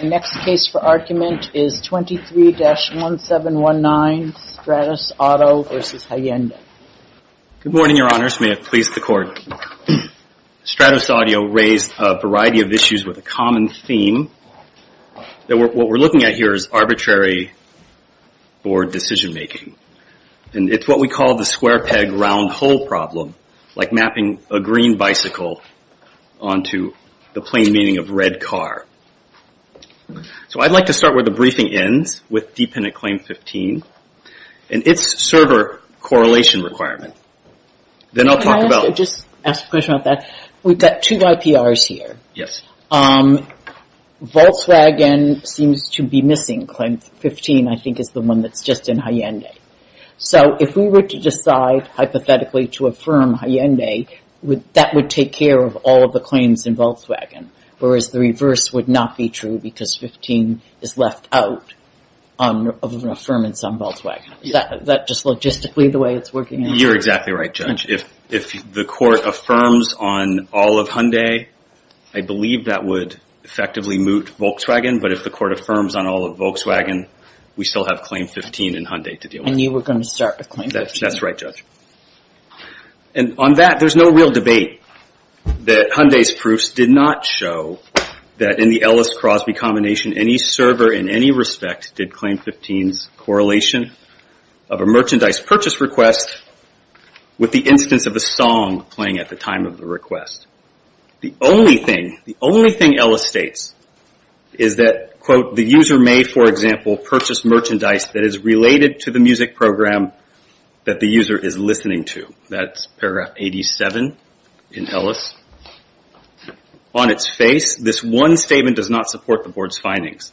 The next case for argument is 23-1719, StratosAuto v. Hyundai. Good morning, Your Honors. May it please the Court. StratosAudio raised a variety of issues with a common theme. What we're looking at here is arbitrary board decision-making, and it's what we call the square peg, round hole problem, like mapping a green bicycle onto the plain meaning of red car. So I'd like to start where the briefing ends with dependent claim 15 and its server correlation requirement. Can I just ask a question about that? We've got two IPRs here. Volkswagen seems to be missing claim 15. I think it's the one that's just in Hyundai. So if we were to decide hypothetically to affirm Hyundai, that would take care of all of the claims in Volkswagen, whereas the reverse would not be true because 15 is left out of an affirmance on Volkswagen. Is that just logistically the way it's working? You're exactly right, Judge. If the Court affirms on all of Hyundai, I believe that would effectively moot Volkswagen, but if the Court affirms on all of Volkswagen, we still have claim 15 in Hyundai to deal with. And you were going to start with claim 15? That's right, Judge. And on that, there's no real debate that Hyundai's proofs did not show that in the Ellis-Crosby combination, any server in any respect did claim 15's correlation of a merchandise purchase request with the instance of a song playing at the time of the request. The only thing Ellis states is that, quote, the user may, for example, purchase merchandise that is related to the music program that the user is listening to. That's paragraph 87 in Ellis. On its face, this one statement does not support the Board's findings.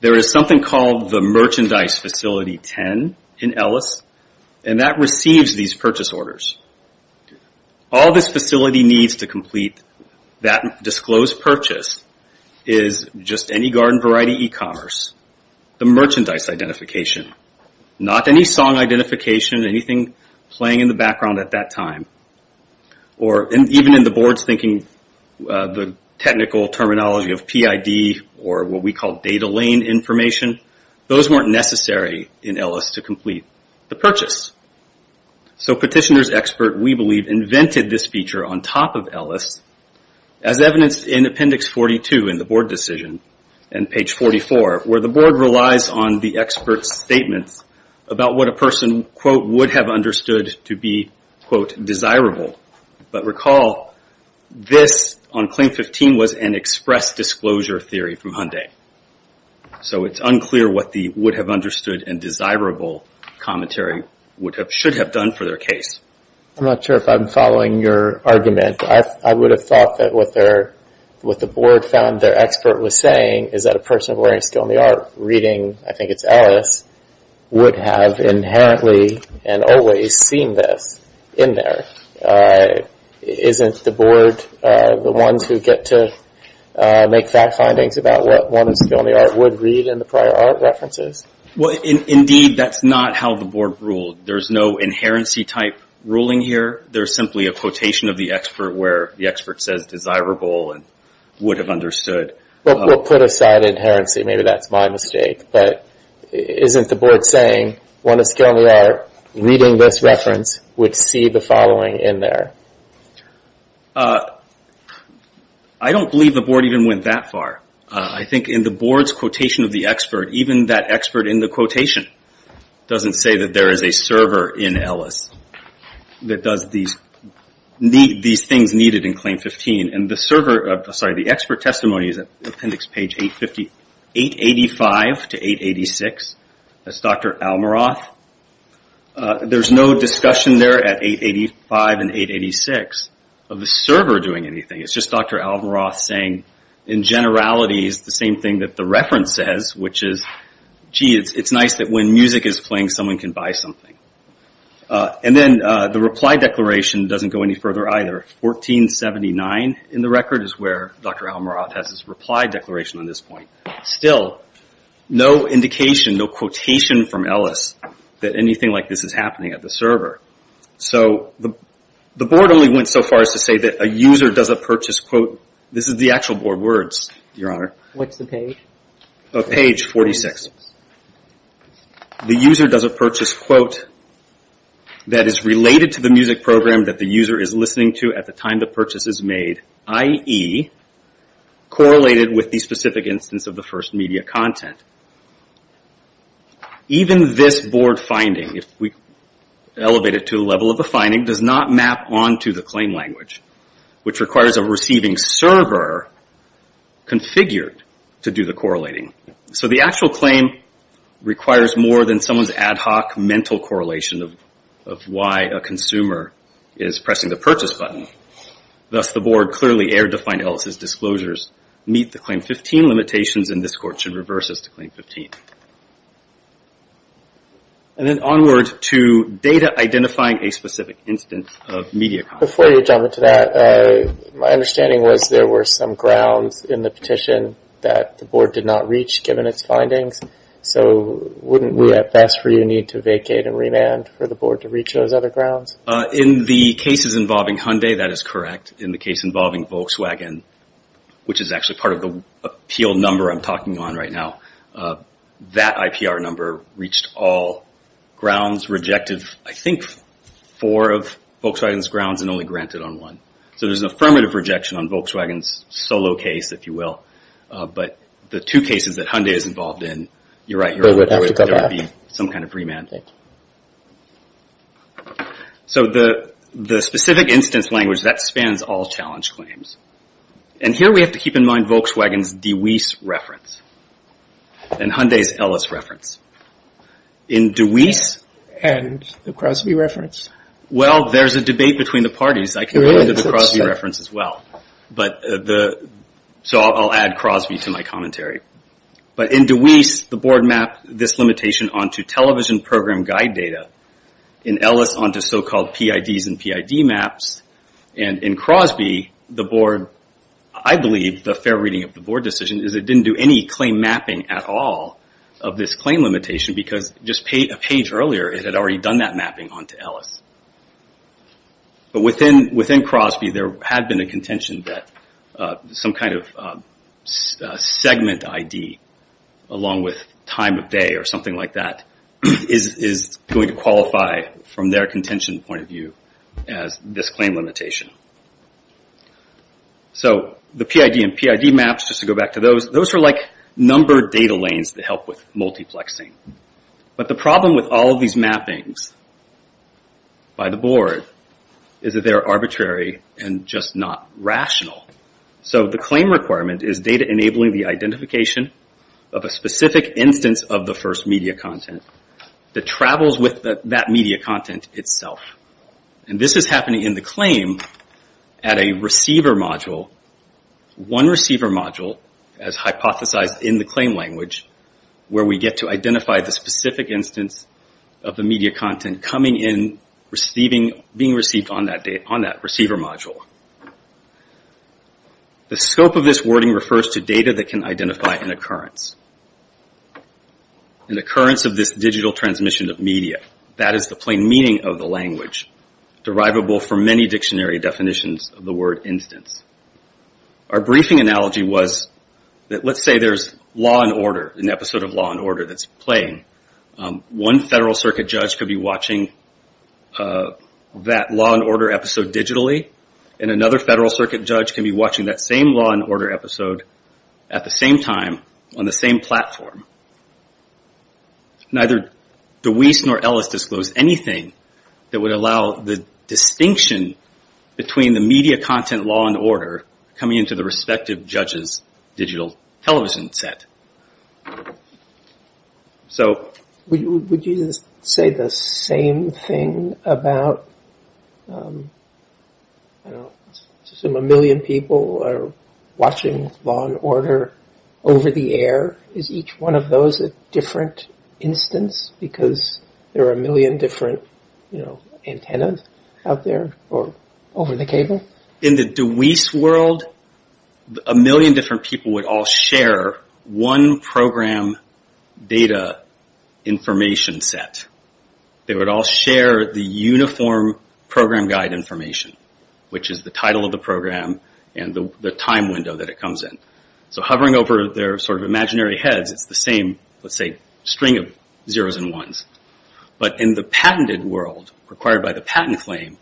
There is something called the Merchandise Facility 10 in Ellis, and that receives these purchase orders. All this facility needs to complete that disclosed purchase is just any garden variety e-commerce. The merchandise identification, not any song identification, anything playing in the background at that time, or even in the Board's thinking, the technical terminology of PID or what we call data lane information, those weren't necessary in Ellis to complete the purchase. So petitioner's expert, we believe, invented this feature on top of Ellis. As evidenced in appendix 42 in the Board decision, and page 44, where the Board relies on the expert's statements about what a person, quote, would have understood to be, quote, desirable. But recall, this on claim 15 was an express disclosure theory from Hyundai. So it's unclear what the would have understood and desirable commentary should have done for their case. I'm not sure if I'm following your argument. I would have thought that what the Board found their expert was saying is that a person wearing a skill in the art reading, I think it's Ellis, would have inherently and always seen this in there. Isn't the Board the ones who get to make fact findings about what one in skill in the art would read in the prior art references? Indeed, that's not how the Board ruled. There's no inherency type ruling here. There's simply a quotation of the expert where the expert says desirable and would have understood. We'll put aside inherency. Maybe that's my mistake. But isn't the Board saying one in skill in the art reading this reference would see the following in there? I don't believe the Board even went that far. I think in the Board's quotation of the expert, even that expert in the quotation doesn't say that there is a server in Ellis that does these things needed in claim 15. The expert testimony is at appendix page 885 to 886. That's Dr. Almaroth. There's no discussion there at 885 and 886 of the server doing anything. It's just Dr. Almaroth saying in generalities the same thing that the reference says, which is, gee, it's nice that when music is playing, someone can buy something. And then the reply declaration doesn't go any further either. 1479 in the record is where Dr. Almaroth has his reply declaration on this point. Still, no indication, no quotation from Ellis that anything like this is happening at the server. So the Board only went so far as to say that a user doesn't purchase, quote, this is the actual Board words, Your Honor. What's the page? Page 46. The user doesn't purchase, quote, that is related to the music program that the user is listening to at the time the purchase is made, i.e., correlated with the specific instance of the first media content. Even this Board finding, if we elevate it to the level of the finding, does not map onto the claim language, which requires a receiving server configured to do the correlating. So the actual claim requires more than someone's ad hoc mental correlation of why a consumer is pressing the purchase button. Thus, the Board clearly erred to find Ellis' disclosures meet the Claim 15 limitations, and this Court should reverse this to Claim 15. And then onward to data identifying a specific instance of media content. Before you jump into that, my understanding was there were some grounds in the petition that the Board did not reach given its findings. So wouldn't we at best for you need to vacate and remand for the Board to reach those other grounds? In the cases involving Hyundai, that is correct. In the case involving Volkswagen, which is actually part of the appeal number I'm talking on right now, that IPR number reached all grounds, rejected I think four of Volkswagen's grounds and only granted on one. So there's an affirmative rejection on Volkswagen's solo case, if you will. But the two cases that Hyundai is involved in, you're right, there would be some kind of remand. So the specific instance language, that spans all challenge claims. And here we have to keep in mind Volkswagen's DeWeese reference and Hyundai's Ellis reference. In DeWeese... And the Crosby reference? Well, there's a debate between the parties. I can go into the Crosby reference as well. So I'll add Crosby to my commentary. But in DeWeese, the Board mapped this limitation onto television program guide data. In Ellis, onto so-called PIDs and PID maps. And in Crosby, the Board, I believe, the fair reading of the Board decision is it didn't do any claim mapping at all of this claim limitation because just a page earlier, it had already done that mapping onto Ellis. But within Crosby, there had been a contention that some kind of segment ID, along with time of day or something like that, is going to qualify from their contention point of view as this claim limitation. So the PID and PID maps, just to go back to those, those are like numbered data lanes that help with multiplexing. But the problem with all of these mappings by the Board is that they're arbitrary and just not rational. So the claim requirement is data enabling the identification of a specific instance of the first media content that travels with that media content itself. And this is happening in the claim at a receiver module, one receiver module, as hypothesized in the claim language, where we get to identify the specific instance of the media content coming in, being received on that receiver module. The scope of this wording refers to data that can identify an occurrence, an occurrence of this digital transmission of media. That is the plain meaning of the language, derivable from many dictionary definitions of the word instance. Our briefing analogy was that let's say there's Law & Order, an episode of Law & Order that's playing. One Federal Circuit judge could be watching that Law & Order episode digitally, and another Federal Circuit judge can be watching that same Law & Order episode at the same time on the same platform. Neither DeWeese nor Ellis disclosed anything that would allow the distinction between the media content Law & Order coming into the respective judge's digital television set. Would you say the same thing about, I don't know, assume a million people are watching Law & Order over the air? Is each one of those a different instance, because there are a million different, you know, antennas out there or over the cable? In the DeWeese world, a million different people would all share one program data information set. They would all share the uniform program guide information, which is the title of the program and the time window that it comes in. Hovering over their imaginary heads, it's the same, let's say, string of zeros and ones. But in the patented world, required by the patent claim,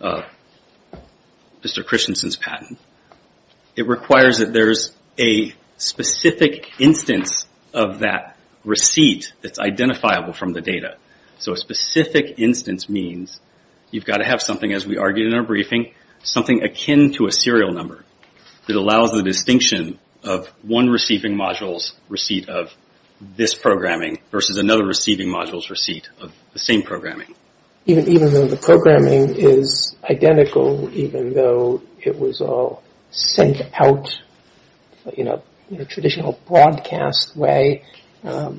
Mr. Christensen's patent, it requires that there's a specific instance of that receipt that's identifiable from the data. A specific instance means you've got to have something, as we argued in our briefing, something akin to a serial number that allows the distinction of one receiving module's receipt of this programming versus another receiving module's receipt of the same programming. Even though the programming is identical, even though it was all sent out in a traditional broadcast way at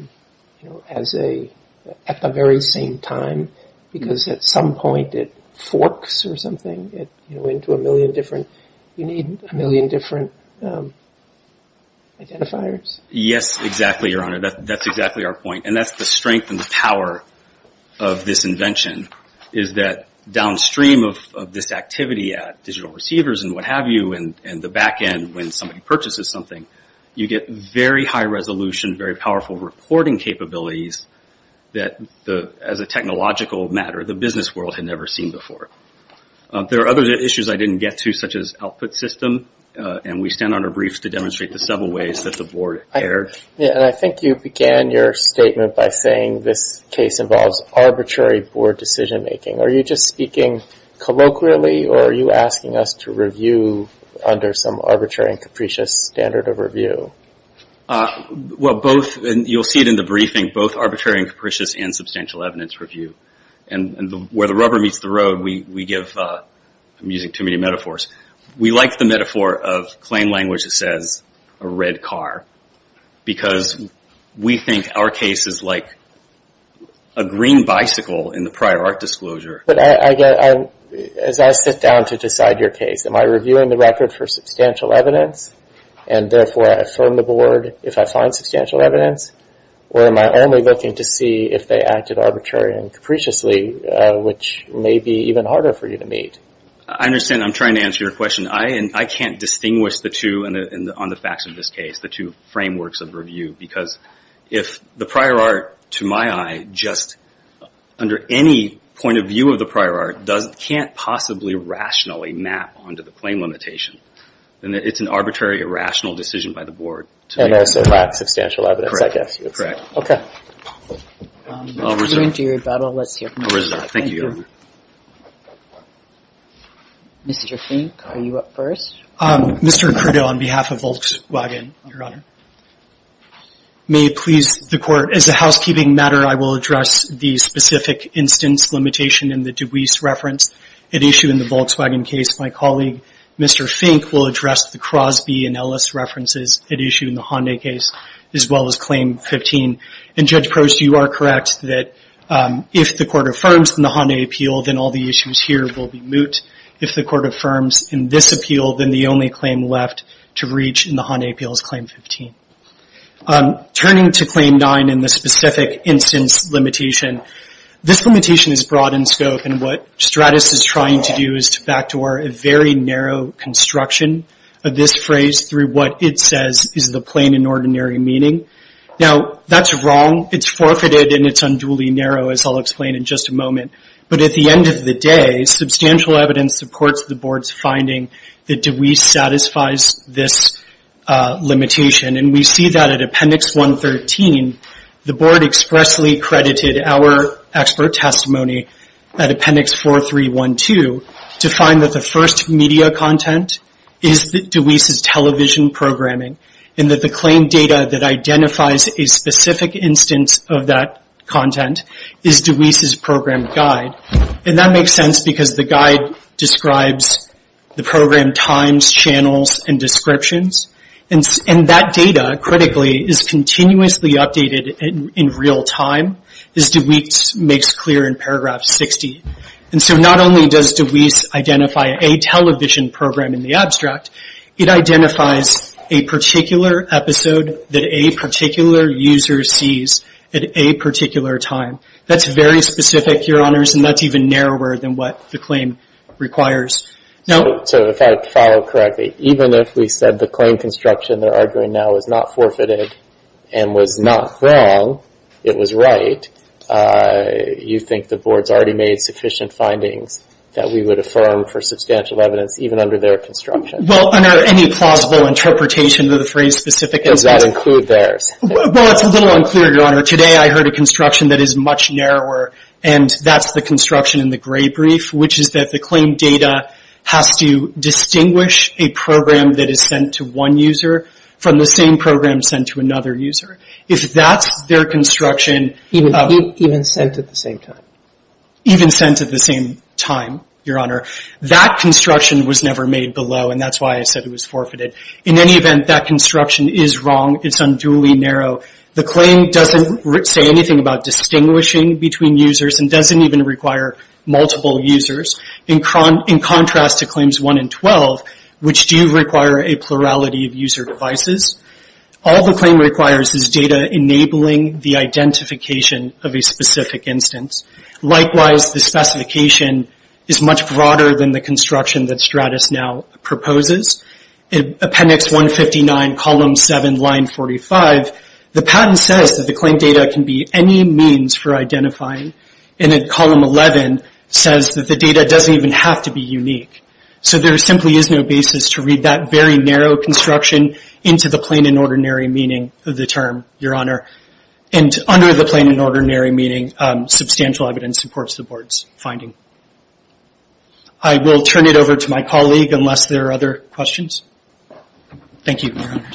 the very same time, because at some point it forks or something into a million different you need a million different identifiers. Yes, exactly, Your Honor. That's exactly our point. And that's the strength and the power of this invention, is that downstream of this activity at digital receivers and what have you and the back end when somebody purchases something, you get very high resolution, very powerful reporting capabilities that as a technological matter the business world had never seen before. There are other issues I didn't get to, such as output system, and we stand on our briefs to demonstrate the several ways that the Board cared. I think you began your statement by saying this case involves arbitrary Board decision-making. Are you just speaking colloquially, or are you asking us to review under some arbitrary and capricious standard of review? You'll see it in the briefing, both arbitrary and capricious and substantial evidence review. And where the rubber meets the road, we give, I'm using too many metaphors, we like the metaphor of claim language that says a red car, because we think our case is like a green bicycle in the prior art disclosure. But as I sit down to decide your case, am I reviewing the record for substantial evidence, and therefore I affirm the Board if I find substantial evidence, or am I only looking to see if they acted arbitrary and capriciously, which may be even harder for you to meet? I understand. I'm trying to answer your question. I can't distinguish the two on the facts of this case, the two frameworks of review, because if the prior art, to my eye, just under any point of view of the prior art, can't possibly rationally map onto the claim limitation, then it's an arbitrary, irrational decision by the Board. And also lacks substantial evidence, I guess you would say. Okay. I'll reserve. Let's hear from you. I'll reserve. Thank you. Thank you. Mr. Fink, are you up first? Mr. Cordo, on behalf of Volkswagen, Your Honor, may it please the Court, as a housekeeping matter, I will address the specific instance limitation in the DeWeese reference at issue in the Volkswagen case. My colleague, Mr. Fink, will address the Crosby and Ellis references at issue in the Hyundai case, as well as Claim 15. And, Judge Crosby, you are correct that if the Court affirms in the Hyundai appeal, then all the issues here will be moot. If the Court affirms in this appeal, then the only claim left to reach in the Hyundai appeal is Claim 15. Turning to Claim 9 and the specific instance limitation, this limitation is broad in scope, and what Stratis is trying to do is to backdoor a very narrow construction of this phrase through what it says is the plain and ordinary meaning. Now, that's wrong. It's forfeited, and it's unduly narrow, as I'll explain in just a moment. But at the end of the day, substantial evidence supports the Board's finding that DeWeese satisfies this limitation. And we see that at Appendix 113, the Board expressly credited our expert testimony at Appendix 4312 to find that the first media content is DeWeese's television programming, and that the claim data that identifies a specific instance of that content is DeWeese's program guide. And that makes sense, because the guide describes the program times, channels, and descriptions. And that data, critically, is continuously updated in real time, as DeWeese makes clear in Paragraph 60. And so not only does DeWeese identify a television program in the abstract, it identifies a particular episode that a particular user sees at a particular time. That's very specific, Your Honors, and that's even narrower than what the claim requires. So if I follow correctly, even if we said the claim construction they're arguing now is not forfeited and was not wrong, it was right, you think the Board's already made sufficient findings that we would affirm for substantial evidence even under their construction? Well, under any plausible interpretation of the phrase specific instance. Does that include theirs? Well, it's a little unclear, Your Honor. Today I heard a construction that is much narrower, and that's the construction in the gray brief, which is that the claim data has to distinguish a program that is sent to one user from the same program sent to another user. If that's their construction... Even sent at the same time. Even sent at the same time, Your Honor. That construction was never made below, and that's why I said it was forfeited. In any event, that construction is wrong. It's unduly narrow. The claim doesn't say anything about distinguishing between users and doesn't even require multiple users, in contrast to Claims 1 and 12, which do require a plurality of user devices. All the claim requires is data enabling the identification of a specific instance. Likewise, the specification is much broader than the construction that Stratis now proposes. In Appendix 159, Column 7, Line 45, the patent says that the claim data can be any means for identifying, and then Column 11 says that the data doesn't even have to be unique. So there simply is no basis to read that very narrow construction into the plain and ordinary meaning of the term, Your Honor. And under the plain and ordinary meaning, substantial evidence supports the Board's finding. I will turn it over to my colleague, unless there are other questions. Thank you, Your Honor.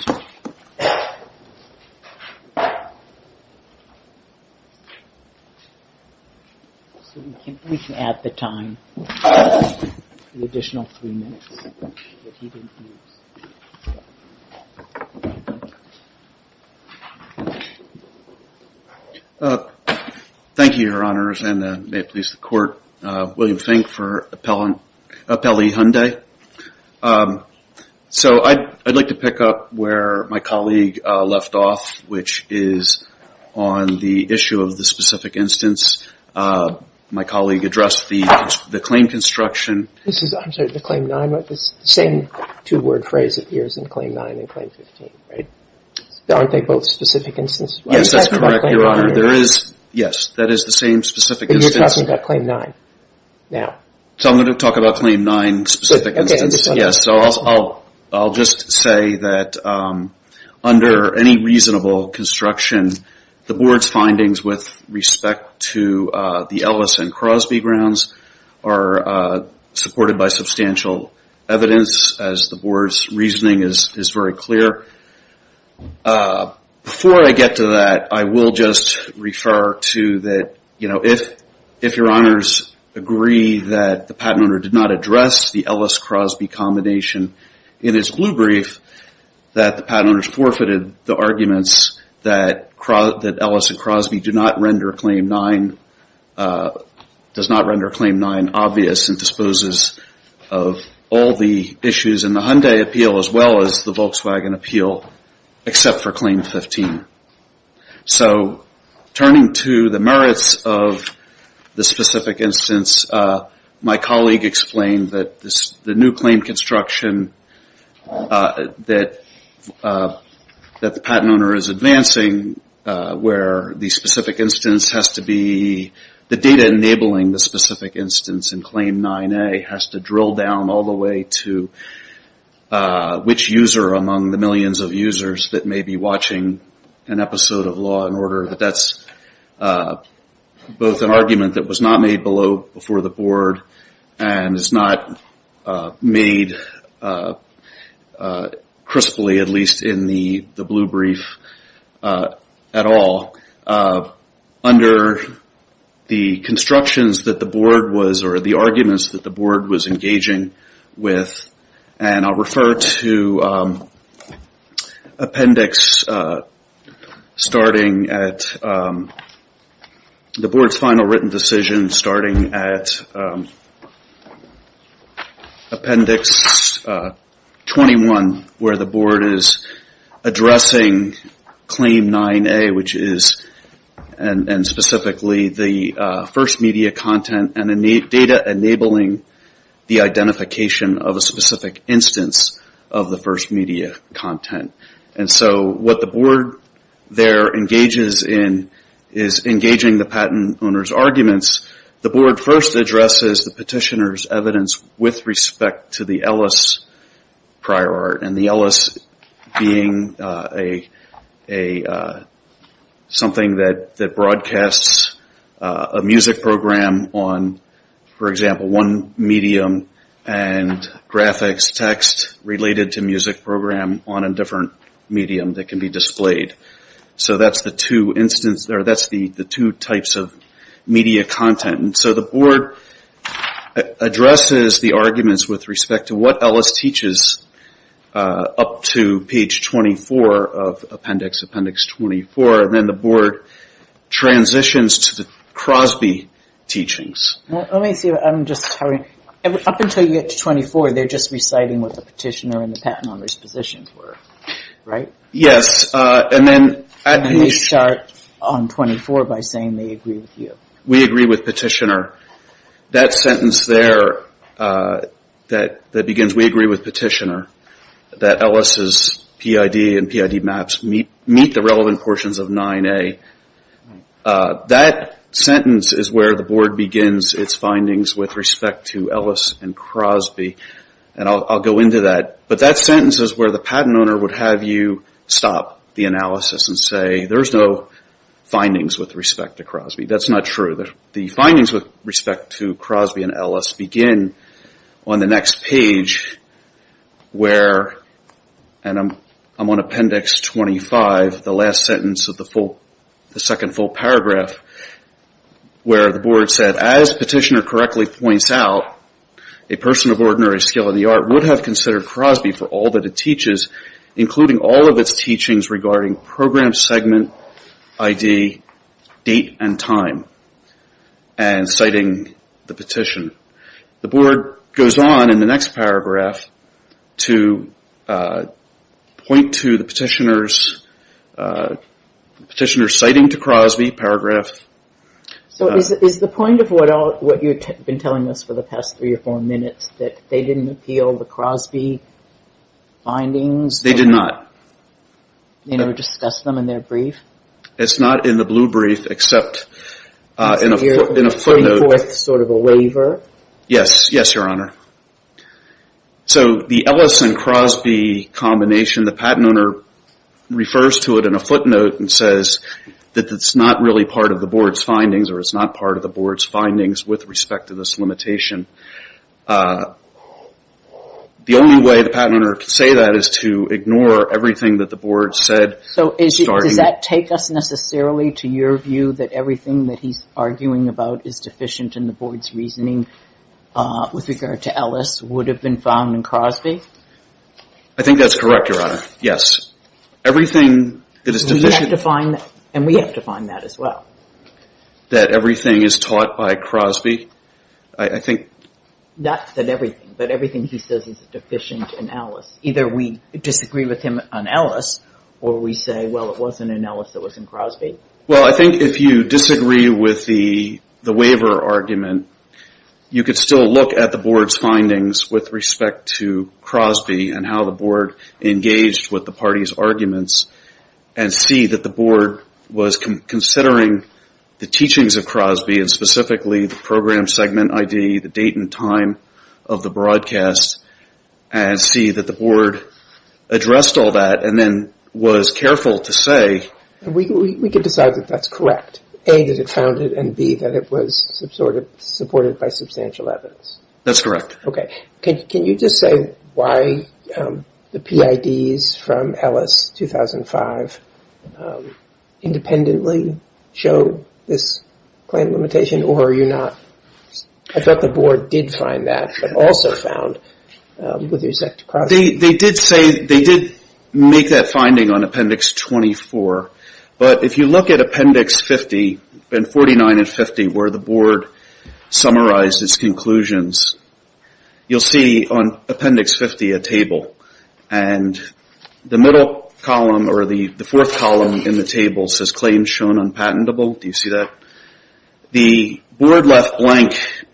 Thank you, Your Honors, and may it please the Court, William Fink for Appellee Hyundai. So I'd like to pick up where my colleague left off, which is on the issue of the specific instance. My colleague addressed the claim construction. This is, I'm sorry, the Claim 9, right? The same two-word phrase appears in Claim 9 and Claim 15, right? Aren't they both specific instances? Yes, that's correct, Your Honor. There is, yes, that is the same specific instance. But you're talking about Claim 9 now. So I'm going to talk about Claim 9 specific instance. So I'll just say that under any reasonable construction, the Board's findings with respect to the Ellis and Crosby grounds are supported by substantial evidence, as the Board's reasoning is very clear. Before I get to that, I will just refer to that, you know, if Your Honors agree that the patent owner did not address the Ellis-Crosby combination in his blue brief, that the patent owners forfeited the arguments that Ellis and Crosby do not render Claim 9 obvious and disposes of all the issues in the Hyundai appeal as well as the Volkswagen appeal, except for Claim 15. So turning to the merits of the specific instance, my colleague explained that the new claim construction that the patent owner is advancing, where the specific instance has to be, the data enabling the specific instance in Claim 9A, has to drill down all the way to which user among the millions of users that may be watching an episode of Law & Order, that that's both an argument that was not made before the Board and is not made crisply, at least in the blue brief, at all. Under the constructions that the Board was or the arguments that the Board was engaging with, and I'll refer to appendix starting at the Board's final written decision, starting at appendix 21, where the Board is addressing Claim 9A, which is specifically the first media content and data enabling the identification of a specific instance of the first media content. And so what the Board there engages in is engaging the patent owner's arguments. The Board first addresses the petitioner's evidence with respect to the Ellis prior art, and the Ellis being something that broadcasts a music program on, for example, one medium and graphics text related to music program on a different medium that can be displayed. So that's the two types of media content. And so the Board addresses the arguments with respect to what Ellis teaches up to page 24 of appendix, appendix 24, and then the Board transitions to the Crosby teachings. Let me see. Up until you get to 24, they're just reciting what the petitioner and the patent owner's positions were, right? Yes. And they start on 24 by saying they agree with you. We agree with petitioner. That sentence there that begins, we agree with petitioner, that Ellis' PID and PID maps meet the relevant portions of 9A, that sentence is where the Board begins its findings with respect to Ellis and Crosby, and I'll go into that. But that sentence is where the patent owner would have you stop the analysis and say, there's no findings with respect to Crosby. That's not true. The findings with respect to Crosby and Ellis begin on the next page where, and I'm on appendix 25, the last sentence of the second full paragraph, where the Board said, as petitioner correctly points out, a person of ordinary skill in the art would have considered Crosby for all that it teaches, including all of its teachings regarding program segment, ID, date, and time, and citing the petition. The Board goes on in the next paragraph to point to the petitioner's citing to Crosby paragraph. So is the point of what you've been telling us for the past three or four minutes, that they didn't appeal the Crosby findings? They did not. They never discussed them in their brief? It's not in the blue brief except in a footnote. So it's sort of a waiver? Yes, Your Honor. So the Ellis and Crosby combination, the patent owner refers to it in a footnote and says that it's not really part of the Board's findings or it's not part of the Board's findings with respect to this limitation. The only way the patent owner could say that is to ignore everything that the Board said. So does that take us necessarily to your view that everything that he's arguing about is deficient in the Board's reasoning with regard to Ellis would have been found in Crosby? I think that's correct, Your Honor. Yes. Everything that is deficient. And we have to find that as well. That everything is taught by Crosby? I think not that everything, but everything he says is deficient in Ellis. Either we disagree with him on Ellis or we say, well, it wasn't in Ellis, it was in Crosby. Well, I think if you disagree with the waiver argument, you could still look at the Board's findings with respect to Crosby and how the Board engaged with the party's arguments and see that the Board was considering the teachings of Crosby and specifically the program segment ID, the date and time of the broadcast and see that the Board addressed all that and then was careful to say... We could decide that that's correct. A, that it found it, and B, that it was supported by substantial evidence. That's correct. Okay. Can you just say why the PIDs from Ellis 2005 independently show this claim limitation or are you not... I thought the Board did find that, but also found with respect to Crosby. They did make that finding on Appendix 24, but if you look at Appendix 50 and 49 and 50 where the Board summarized its conclusions, you'll see on Appendix 50 a table. And the middle column or the fourth column in the table says, Do you see that? The Board left blank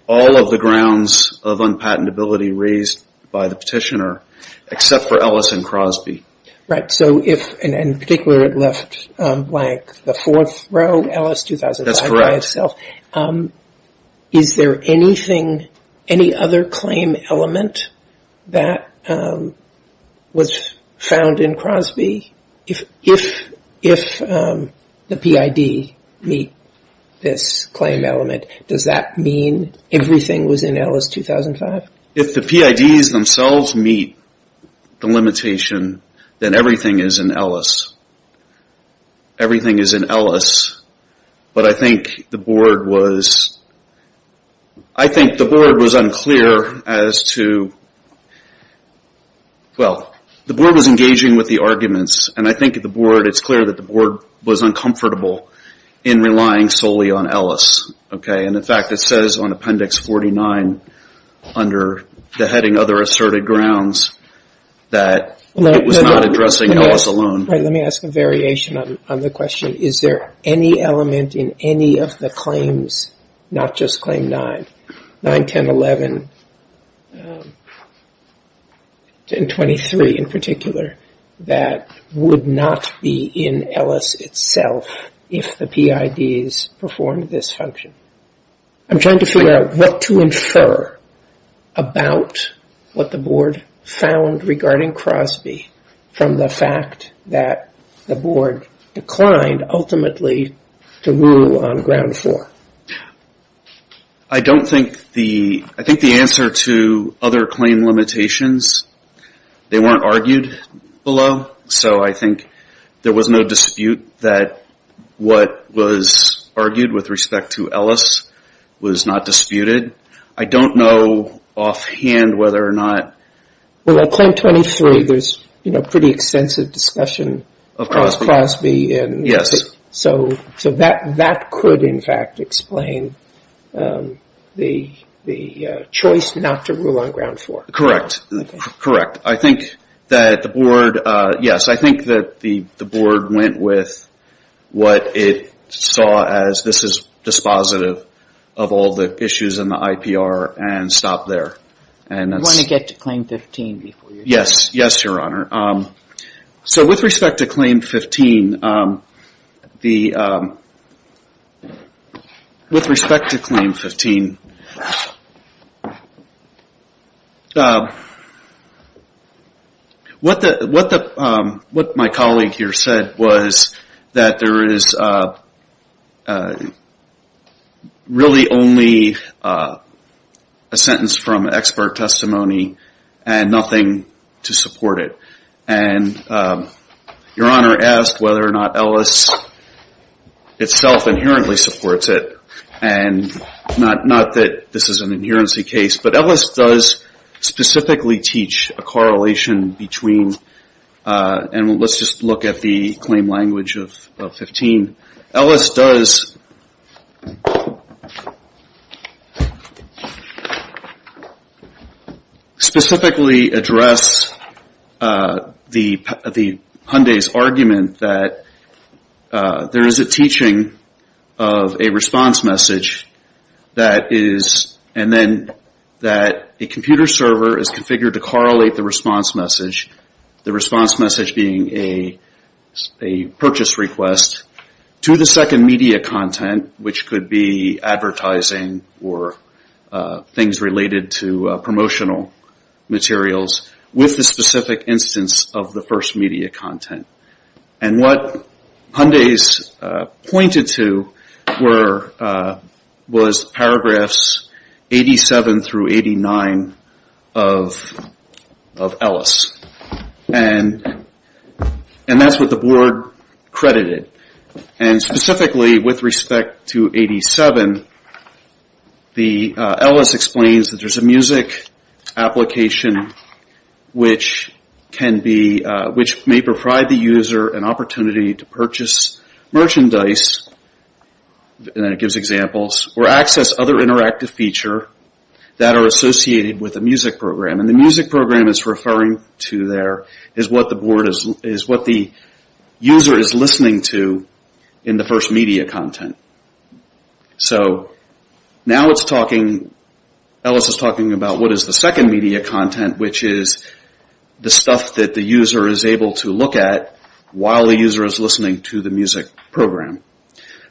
all of the grounds of unpatentability raised by the petitioner, except for Ellis and Crosby. In particular, it left blank the fourth row, Ellis 2005 by itself. Is there anything, any other claim element that was found in Crosby? If the PID meet this claim element, does that mean everything was in Ellis 2005? If the PIDs themselves meet the limitation, then everything is in Ellis. Everything is in Ellis. But I think the Board was unclear as to... Well, the Board was engaging with the arguments, and I think it's clear that the Board was uncomfortable in relying solely on Ellis. In fact, it says on Appendix 49 under the heading Other Asserted Grounds that it was not addressing Ellis alone. Let me ask a variation on the question. Is there any element in any of the claims, not just Claim 9, 9, 10, 11, and 23 in particular, that would not be in Ellis itself if the PIDs performed this function? I'm trying to figure out what to infer about what the Board found regarding Crosby from the fact that the Board declined ultimately to rule on Ground 4. I don't think the... I think the answer to other claim limitations, they weren't argued below. So I think there was no dispute that what was argued with respect to Ellis was not disputed. I don't know offhand whether or not... Well, at Claim 23, there's pretty extensive discussion of Crosby. So that could, in fact, explain the choice not to rule on Ground 4. Correct. Correct. I think that the Board... Yes, I think that the Board went with what it saw as this is dispositive of all the issues in the IPR and stopped there. You want to get to Claim 15 before you... Yes. Yes, Your Honor. So with respect to Claim 15... With respect to Claim 15... What my colleague here said was that there is really only a sentence from expert testimony and nothing to support it. And Your Honor asked whether or not Ellis itself inherently supports it. And not that this is an inherency case, but Ellis does specifically teach a correlation between... And let's just look at the claim language of 15. Ellis does specifically address Hyundai's argument that there is a teaching of a response message and then that a computer server is configured to correlate the response message, the response message being a purchase request, to the second media content, which could be advertising or things related to promotional materials, with the specific instance of the first media content. And what Hyundai's pointed to was paragraphs 87 through 89 of Ellis. And that's what the Board credited. And specifically with respect to 87, Ellis explains that there's a music application which may provide the user an opportunity to purchase merchandise, and then it gives examples, or access other interactive feature that are associated with a music program. And the music program is referring to there is what the user is listening to in the first media content. So now it's talking, Ellis is talking about what is the second media content, which is the stuff that the user is able to look at while the user is listening to the music program.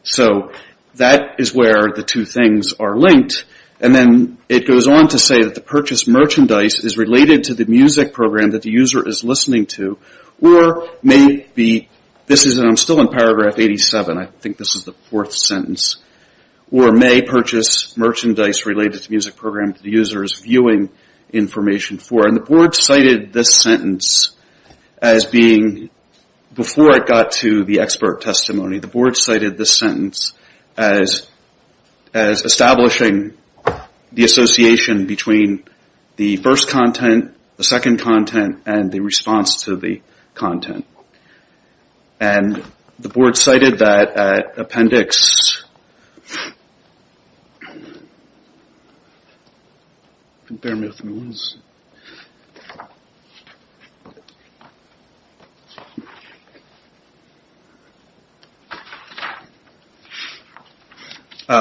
So that is where the two things are linked. And then it goes on to say that the purchase merchandise is related to the music program that the user is listening to, or may be, this is still in paragraph 87, I think this is the fourth sentence, or may purchase merchandise related to the music program that the user is viewing information for. And the Board cited this sentence as being, before it got to the expert testimony, the Board cited this sentence as establishing the association between the first content, the second content, and the response to the content. And the Board cited that appendix,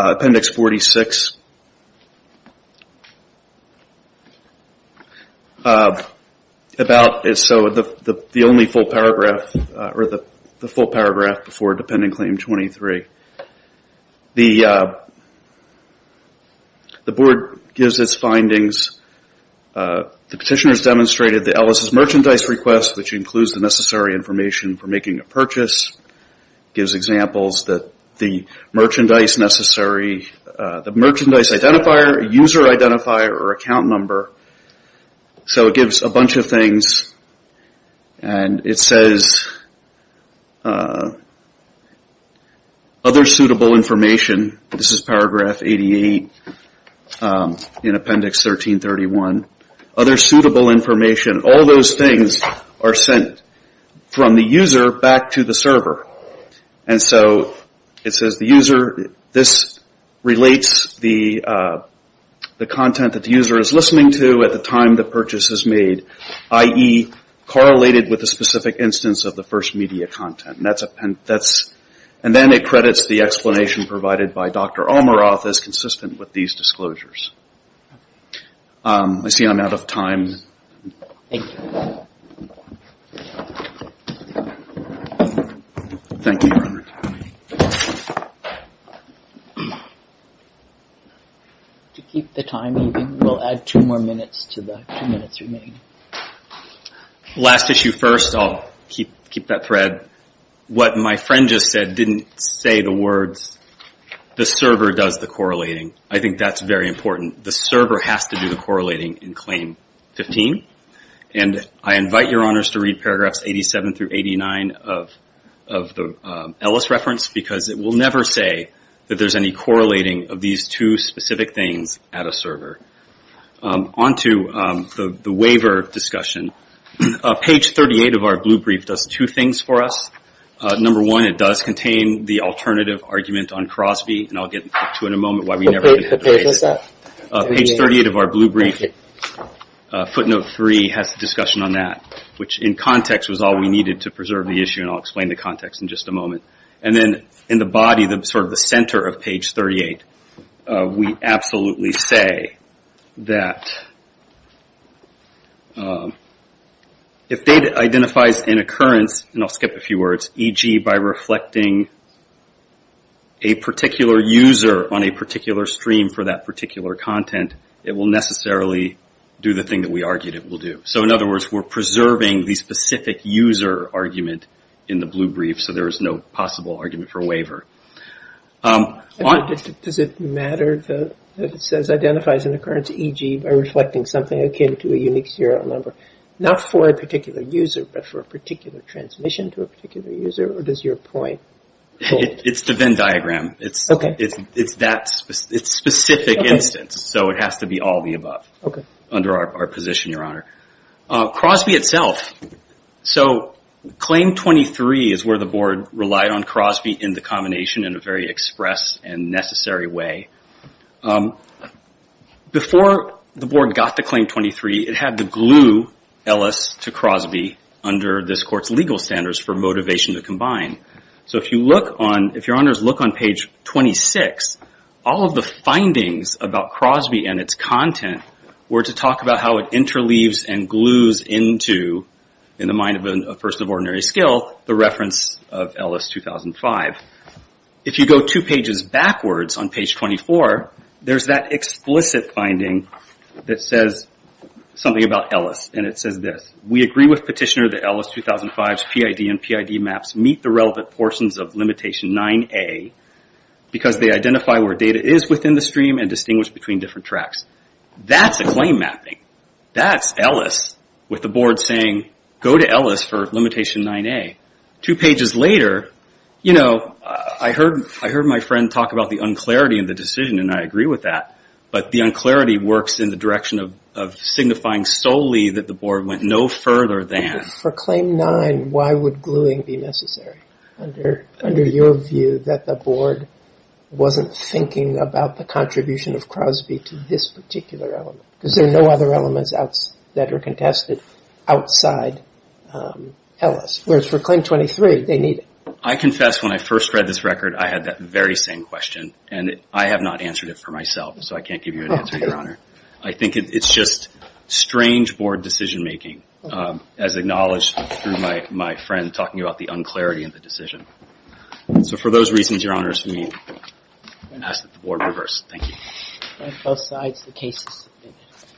appendix 46, about, so the only full paragraph, or the full paragraph before dependent claim 23. The Board gives its findings. The petitioners demonstrated that Ellis' merchandise request, which includes the necessary information for making a purchase, gives examples that the merchandise necessary, the merchandise identifier, user identifier, or account number. So it gives a bunch of things. And it says, other suitable information, this is paragraph 88 in appendix 1331, other suitable information, all those things are sent from the user back to the server. And so it says the user, this relates the content that the user is listening to at the time the purchase is made, i.e., correlated with the specific instance of the first media content. And then it credits the explanation provided by Dr. Almaroth as consistent with these disclosures. I see I'm out of time. Thank you, Robert. To keep the time, we'll add two more minutes to the two minutes remaining. Last issue first, I'll keep that thread. What my friend just said didn't say the words, the server does the correlating. I think that's very important. The server has to do the correlating in claim 15. And I invite your honors to read paragraphs 87 through 89 of the Ellis reference, because it will never say that there's any correlating of these two specific things at a server. On to the waiver discussion. Page 38 of our blue brief does two things for us. Number one, it does contain the alternative argument on Crosby. Page 38 of our blue brief, footnote 3, has a discussion on that. Which in context was all we needed to preserve the issue, and I'll explain the context in just a moment. And then in the body, sort of the center of page 38, we absolutely say that if data identifies an occurrence, and I'll skip a few words, e.g. by reflecting a particular user on a particular stream for that particular content, it will necessarily do the thing that we argued it will do. So in other words, we're preserving the specific user argument in the blue brief, so there is no possible argument for waiver. Does it matter that it says identifies an occurrence, e.g. by reflecting something akin to a unique serial number, not for a particular user, but for a particular transmission to a particular user, or does your point hold? It's the Venn diagram. It's that specific instance. So it has to be all of the above under our position, your honor. Crosby itself, so claim 23 is where the board relied on Crosby in the combination in a very express and necessary way. Before the board got to claim 23, it had to glue Ellis to Crosby under this court's legal standards for motivation to combine. So if your honors look on page 26, all of the findings about Crosby and its content were to talk about how it interleaves and glues into, in the mind of a person of ordinary skill, the reference of Ellis 2005. If you go two pages backwards on page 24, there's that explicit finding that says something about Ellis, and it says this, we agree with petitioner that Ellis 2005's PID and PID maps meet the relevant portions of limitation 9A, because they identify where data is within the stream and distinguish between different tracks. That's a claim mapping. That's Ellis with the board saying go to Ellis for limitation 9A. Two pages later, I heard my friend talk about the unclarity in the decision and I agree with that, but the unclarity works in the direction of signifying solely that the board went no further than. For claim 9, why would gluing be necessary under your view that the board wasn't thinking about the contribution of Crosby to this particular element? Because there are no other elements that are contested outside Ellis. Whereas for claim 23, they need it. I confess when I first read this record, I had that very same question and I have not answered it for myself, so I can't give you an answer, your honor. I think it's just strange board decision making, as acknowledged through my friend talking about the unclarity in the decision. So for those reasons, your honors, we ask that the board reverse. Thank you.